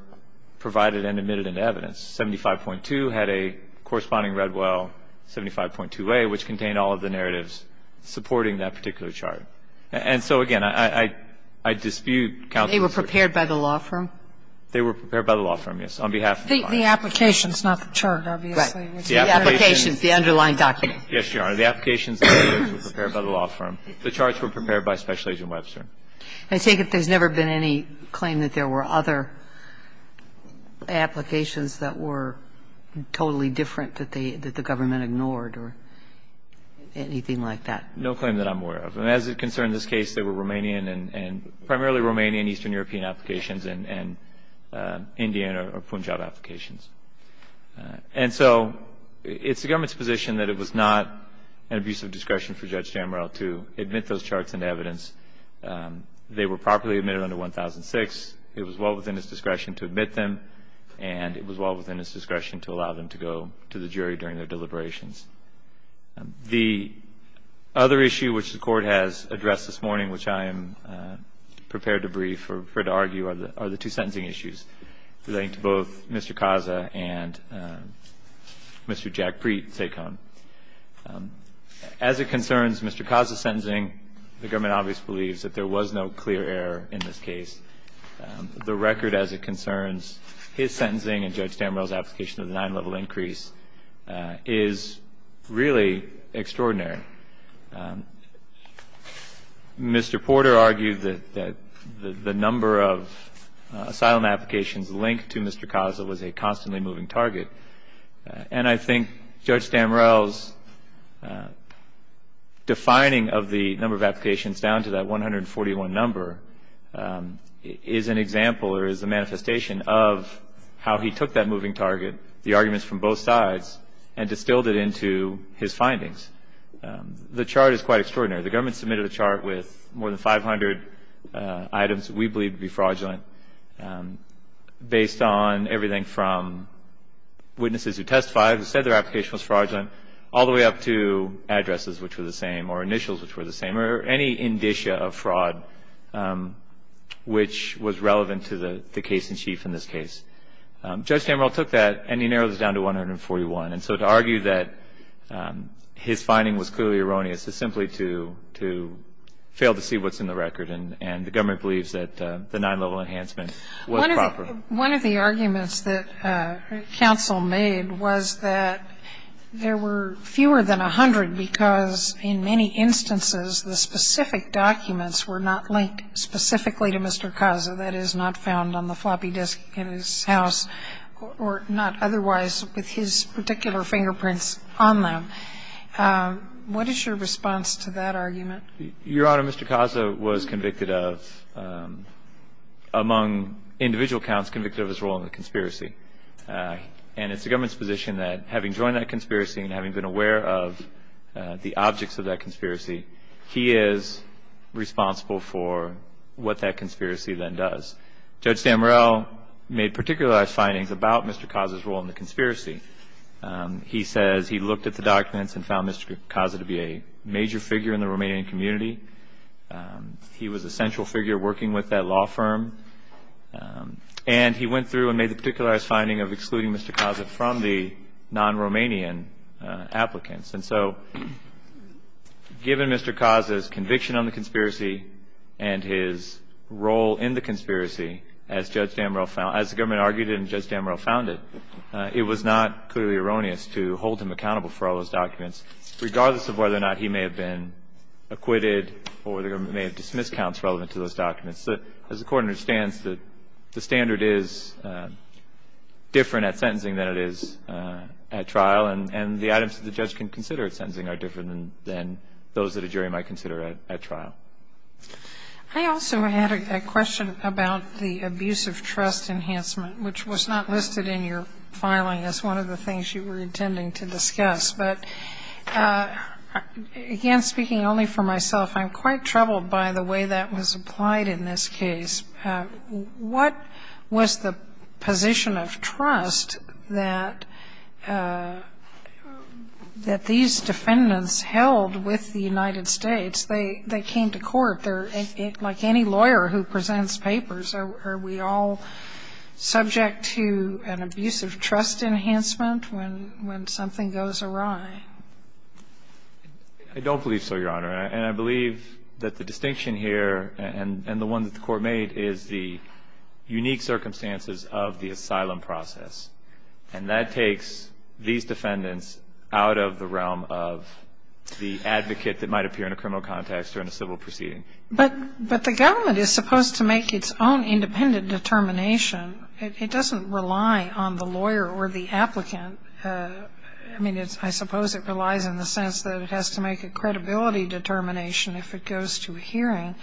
provided and admitted into evidence. 75.2 had a corresponding Redwell, 75.2a, which contained all of the narratives supporting that particular chart. And so, again, I dispute counsel's view. They were prepared by the law firm? They were prepared by the law firm, yes, on behalf of the law firm. I think the application is not the chart, obviously. Right. The application is the underlying document. Yes, Your Honor. The applications were prepared by the law firm. The charts were prepared by Special Agent Webster. And I take it there's never been any claim that there were other applications that were totally different that the government ignored or anything like that? No claim that I'm aware of. And as it concerned this case, there were Romanian and primarily Romanian, Eastern European applications, and Indian or Punjab applications. And so it's the government's position that it was not an abuse of discretion for Judge D'Amoral to admit those charts into evidence. They were properly admitted under 1006. It was well within his discretion to admit them, and it was well within his discretion to allow them to go to the jury during their deliberations. The other issue which the Court has addressed this morning, which I am prepared to brief or to argue, are the two sentencing issues, relating to both Mr. Kaza and Mr. Jack Preet, SACOM. As it concerns Mr. Kaza's sentencing, the government obviously believes that there was no clear error in this case. The record as it concerns his sentencing and Judge D'Amoral's application of the nine-level increase is really extraordinary. Mr. Porter argued that the number of asylum applications linked to Mr. Kaza was a constantly moving target. And I think Judge D'Amoral's defining of the number of applications down to that 141 number is an example or is a manifestation of how he took that moving target, the arguments from both sides, and distilled it into his findings. The chart is quite extraordinary. The government submitted a chart with more than 500 items we believe to be fraudulent, based on everything from witnesses who testified who said their application was fraudulent all the way up to addresses which were the same or initials which were the same or any indicia of fraud which was relevant to the case in chief in this case. Judge D'Amoral took that and he narrowed it down to 141. And so to argue that his finding was clearly erroneous is simply to fail to see what's in the record. And the government believes that the nine-level enhancement was proper. One of the arguments that counsel made was that there were fewer than 100 because in many instances the specific documents were not linked specifically to Mr. Kaza, that is, not found on the floppy disk in his house, or not otherwise with his particular fingerprints on them. What is your response to that argument? Your Honor, Mr. Kaza was convicted of, among individual counts, convicted of his role in the conspiracy. And it's the government's position that having joined that conspiracy and having been aware of the objects of that conspiracy, he is responsible for what that conspiracy then does. Judge D'Amoral made particularized findings about Mr. Kaza's role in the conspiracy. He says he looked at the documents and found Mr. Kaza to be a major figure in the Romanian community. He was a central figure working with that law firm. And he went through and made the particularized finding of excluding Mr. Kaza from the non-Romanian applicants. And so given Mr. Kaza's conviction on the conspiracy and his role in the conspiracy, as the government argued and Judge D'Amoral founded, it was not clearly erroneous to hold him accountable for all those documents, regardless of whether or not he may have been acquitted or the government may have dismissed counts relevant to those documents. As the Court understands, the standard is different at sentencing than it is at trial. And the items that the judge can consider at sentencing are different than those that a jury might consider at trial. I also had a question about the abuse of trust enhancement, which was not listed in your filing as one of the things you were intending to discuss. But again, speaking only for myself, I'm quite troubled by the way that was applied in this case. What was the position of trust that these defendants held with the United States? They came to court. Like any lawyer who presents papers, are we all subject to an abuse of trust enhancement when something goes awry? I don't believe so, Your Honor. And I believe that the distinction here and the one that the Court made is the unique circumstances of the asylum process. And that takes these defendants out of the realm of the advocate that might appear in a criminal context or in a civil proceeding. But the government is supposed to make its own independent determination. It doesn't rely on the lawyer or the applicant. I mean, I suppose it relies in the sense that it has to make a credibility determination if it goes to a hearing.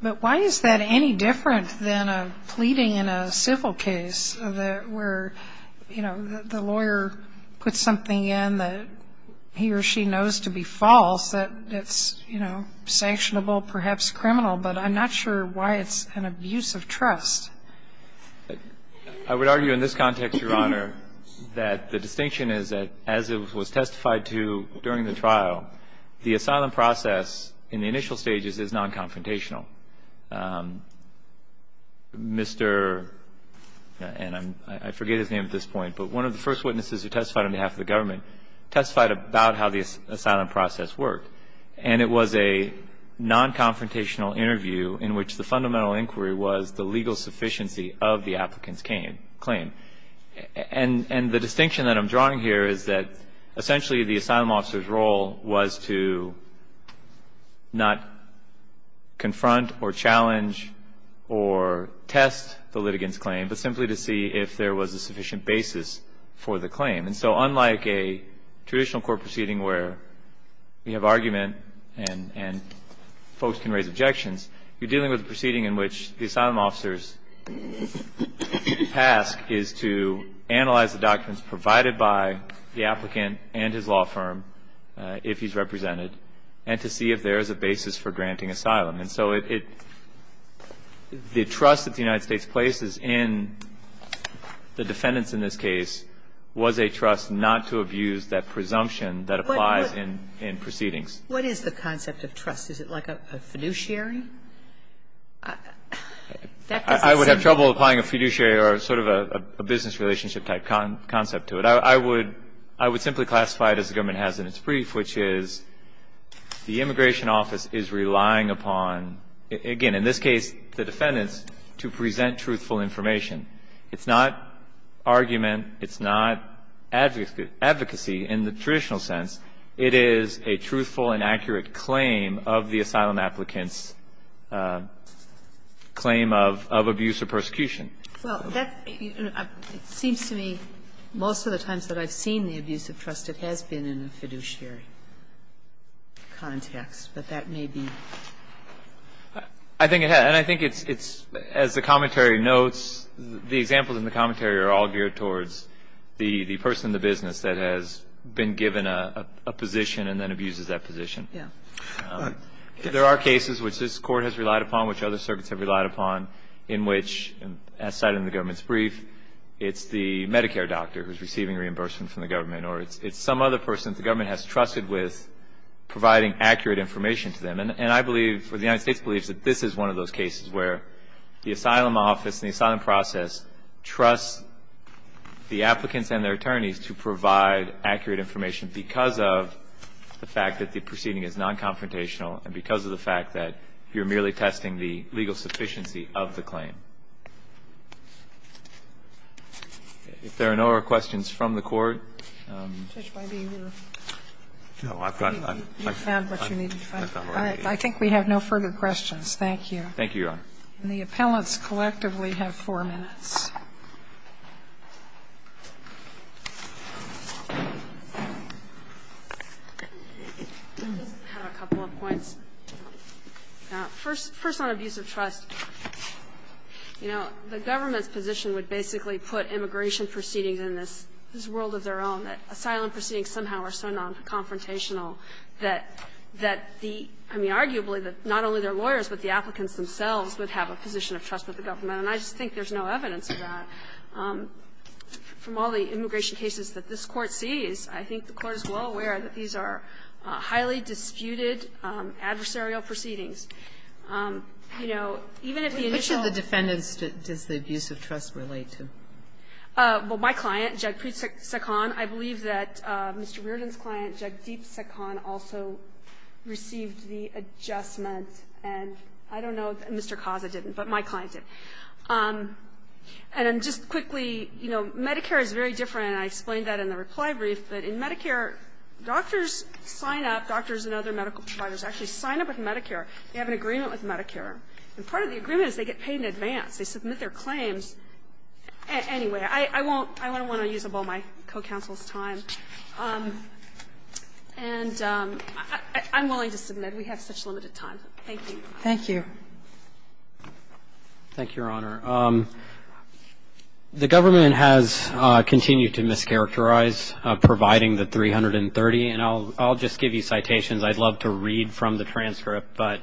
But why is that any different than a pleading in a civil case where, you know, the lawyer puts something in that he or she knows to be false that's, you know, sanctionable, perhaps criminal, but I'm not sure why it's an abuse of trust. I would argue in this context, Your Honor, that the distinction is that as it was testified to during the trial, the asylum process in the initial stages is nonconfrontational. Mr. and I forget his name at this point, but one of the first witnesses who testified on behalf of the government testified about how the asylum process worked. And it was a nonconfrontational interview in which the fundamental inquiry was the legal sufficiency of the applicant's claim. And the distinction that I'm drawing here is that, essentially, the asylum officer's role was to not confront or challenge or test the litigant's claim, but simply to see if there was a sufficient basis for the claim. And so unlike a traditional court proceeding where you have argument and folks can raise objections, you're dealing with a proceeding in which the asylum officer's task is to analyze the documents provided by the applicant and his law firm, if he's represented, and to see if there is a basis for granting asylum. And so it the trust that the United States places in the defendants in this case was a trust not to abuse that presumption that applies in proceedings. What is the concept of trust? Is it like a fiduciary? I would have trouble applying a fiduciary or sort of a business relationship type concept to it. I would simply classify it as the government has in its brief, which is the immigration office is relying upon, again, in this case the defendants, to present truthful information. It's not argument. It's not advocacy in the traditional sense. It is a truthful and accurate claim of the asylum applicant's claim of abuse or persecution. Well, that seems to me, most of the times that I've seen the abuse of trust, it has been in a fiduciary context, but that may be. I think it has. And I think it's, as the commentary notes, the examples in the commentary are all geared towards the person in the business that has been given a position and then abuses that position. There are cases which this Court has relied upon, which other circuits have relied upon, in which, as cited in the government's brief, it's the Medicare doctor who's receiving reimbursement from the government, or it's some other person that the government has trusted with providing accurate information to them. And I believe, or the United States believes, that this is one of those cases where the asylum office and the asylum process trusts the applicants and their attorneys to provide accurate information because of the fact that the proceeding is non-confrontational and because of the fact that you're merely testing the legal sufficiency of the claim. If there are no other questions from the Court. I think we have no further questions. Thank you. Thank you, Your Honor. And the appellants collectively have four minutes. I just have a couple of points. First, on abuse of trust, you know, the government's position would basically put immigration proceedings in this world of their own, that asylum proceedings somehow are so non-confrontational that the, I mean, arguably that not only their lawyers but the applicants themselves would have a position of trust with the government. And I just think there's no evidence of that. From all the immigration cases that this Court sees, I think the Court is well aware that these are highly disputed adversarial proceedings. You know, even if the initial ---- Which of the defendants does the abuse of trust relate to? Well, my client, Jagpreet Sekhan, I believe that Mr. Reardon's client, Jagdeep Sekhan, also received the adjustment. And I don't know that Mr. Kaza didn't, but my client did. And just quickly, you know, Medicare is very different, and I explained that in the reply brief, but in Medicare, doctors sign up, doctors and other medical providers actually sign up with Medicare. They have an agreement with Medicare. And part of the agreement is they get paid in advance. They submit their claims. Anyway, I won't ---- I don't want to use up all my co-counsel's time. And I'm willing to submit. We have such limited time. Thank you. Thank you. Thank you, Your Honor. The government has continued to mischaracterize, providing the 330. And I'll just give you citations. I'd love to read from the transcript. But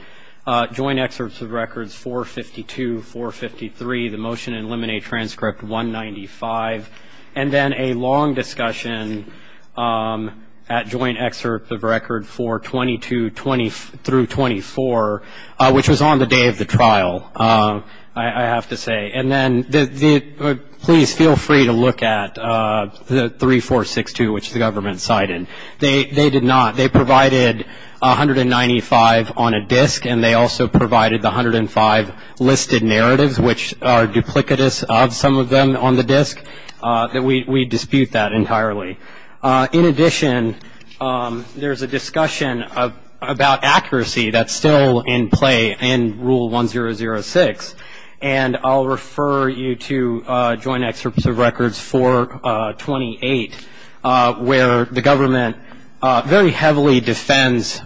Joint Excerpts of Records 452, 453, the motion in limine transcript 195, and then a long discussion at Joint Excerpts of Records 422 through 24, which was on the day of the trial, I have to say. And then please feel free to look at the 3462, which the government cited. They did not. They provided 195 on a disk, and they also provided the 105 listed narratives, which are duplicitous of some of them on the disk. We dispute that entirely. In addition, there's a discussion about accuracy that's still in play in Rule 1006. And I'll refer you to Joint Excerpts of Records 428, where the government very heavily defends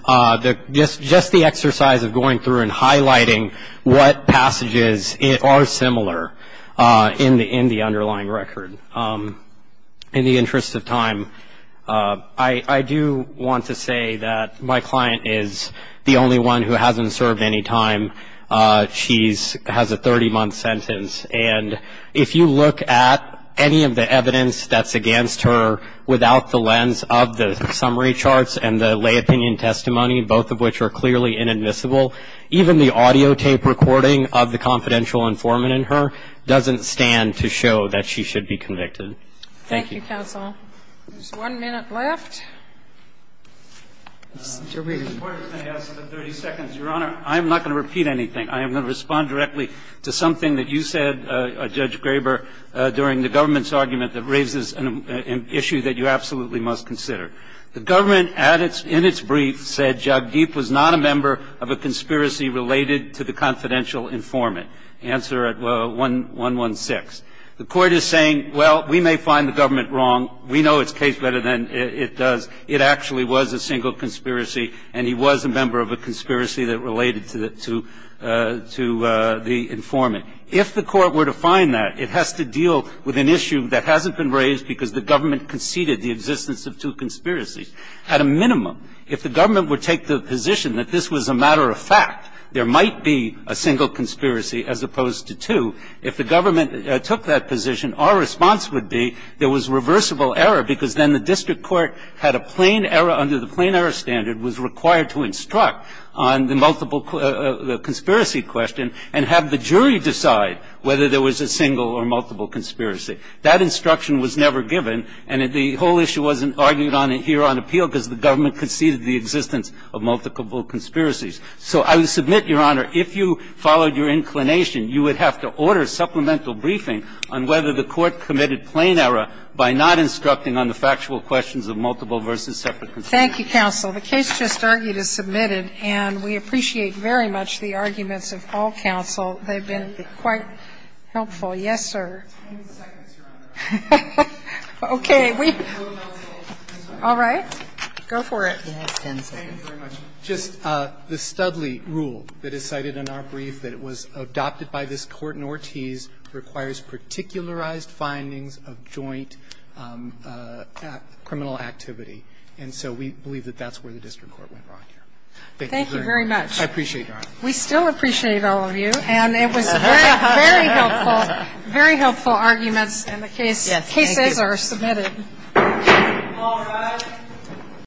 just the exercise of going through and highlighting what passages are similar in the underlying record. In the interest of time, I do want to say that my client is the only one who hasn't served any time. She has a 30-month sentence. And if you look at any of the evidence that's against her without the lens of the summary charts and the lay opinion testimony, both of which are clearly inadmissible, even the audio tape recording of the confidential informant in her doesn't stand to show that she should be convicted. Thank you. Thank you, counsel. There's one minute left. Mr. Breeden. I'm going to ask for 30 seconds, Your Honor. I'm not going to repeat anything. I am going to respond directly to something that you said, Judge Graber, during the government's argument that raises an issue that you absolutely must consider. The government, in its brief, said Jagdeep was not a member of a conspiracy related to the confidential informant. Answer at 116. The Court is saying, well, we may find the government wrong. We know its case better than it does. It actually was a single conspiracy, and he was a member of a conspiracy that related to the informant. If the Court were to find that, it has to deal with an issue that hasn't been raised because the government conceded the existence of two conspiracies. At a minimum, if the government would take the position that this was a matter of fact, there might be a single conspiracy as opposed to two. If the government took that position, our response would be there was reversible error because then the district court had a plain error under the plain error standard, was required to instruct on the multiple conspiracy question and have the jury decide whether there was a single or multiple conspiracy. That instruction was never given, and the whole issue wasn't argued on here on appeal because the government conceded the existence of multiple conspiracies. So I would submit, Your Honor, if you followed your inclination, you would have to order supplemental briefing on whether the Court committed plain error by not instructing on the factual questions of multiple versus separate conspiracy. Thank you, counsel. The case just argued is submitted, and we appreciate very much the arguments of all counsel. They've been quite helpful. Yes, sir. Okay. All right. Go for it. Just the Studley rule that is cited in our brief that it was adopted by this Court in Ortiz requires particularized findings of joint criminal activity, and so we believe that that's where the district court went wrong here. Thank you very much. I appreciate your honor. We still appreciate all of you, and it was very, very helpful. Very helpful arguments, and the cases are submitted. All rise.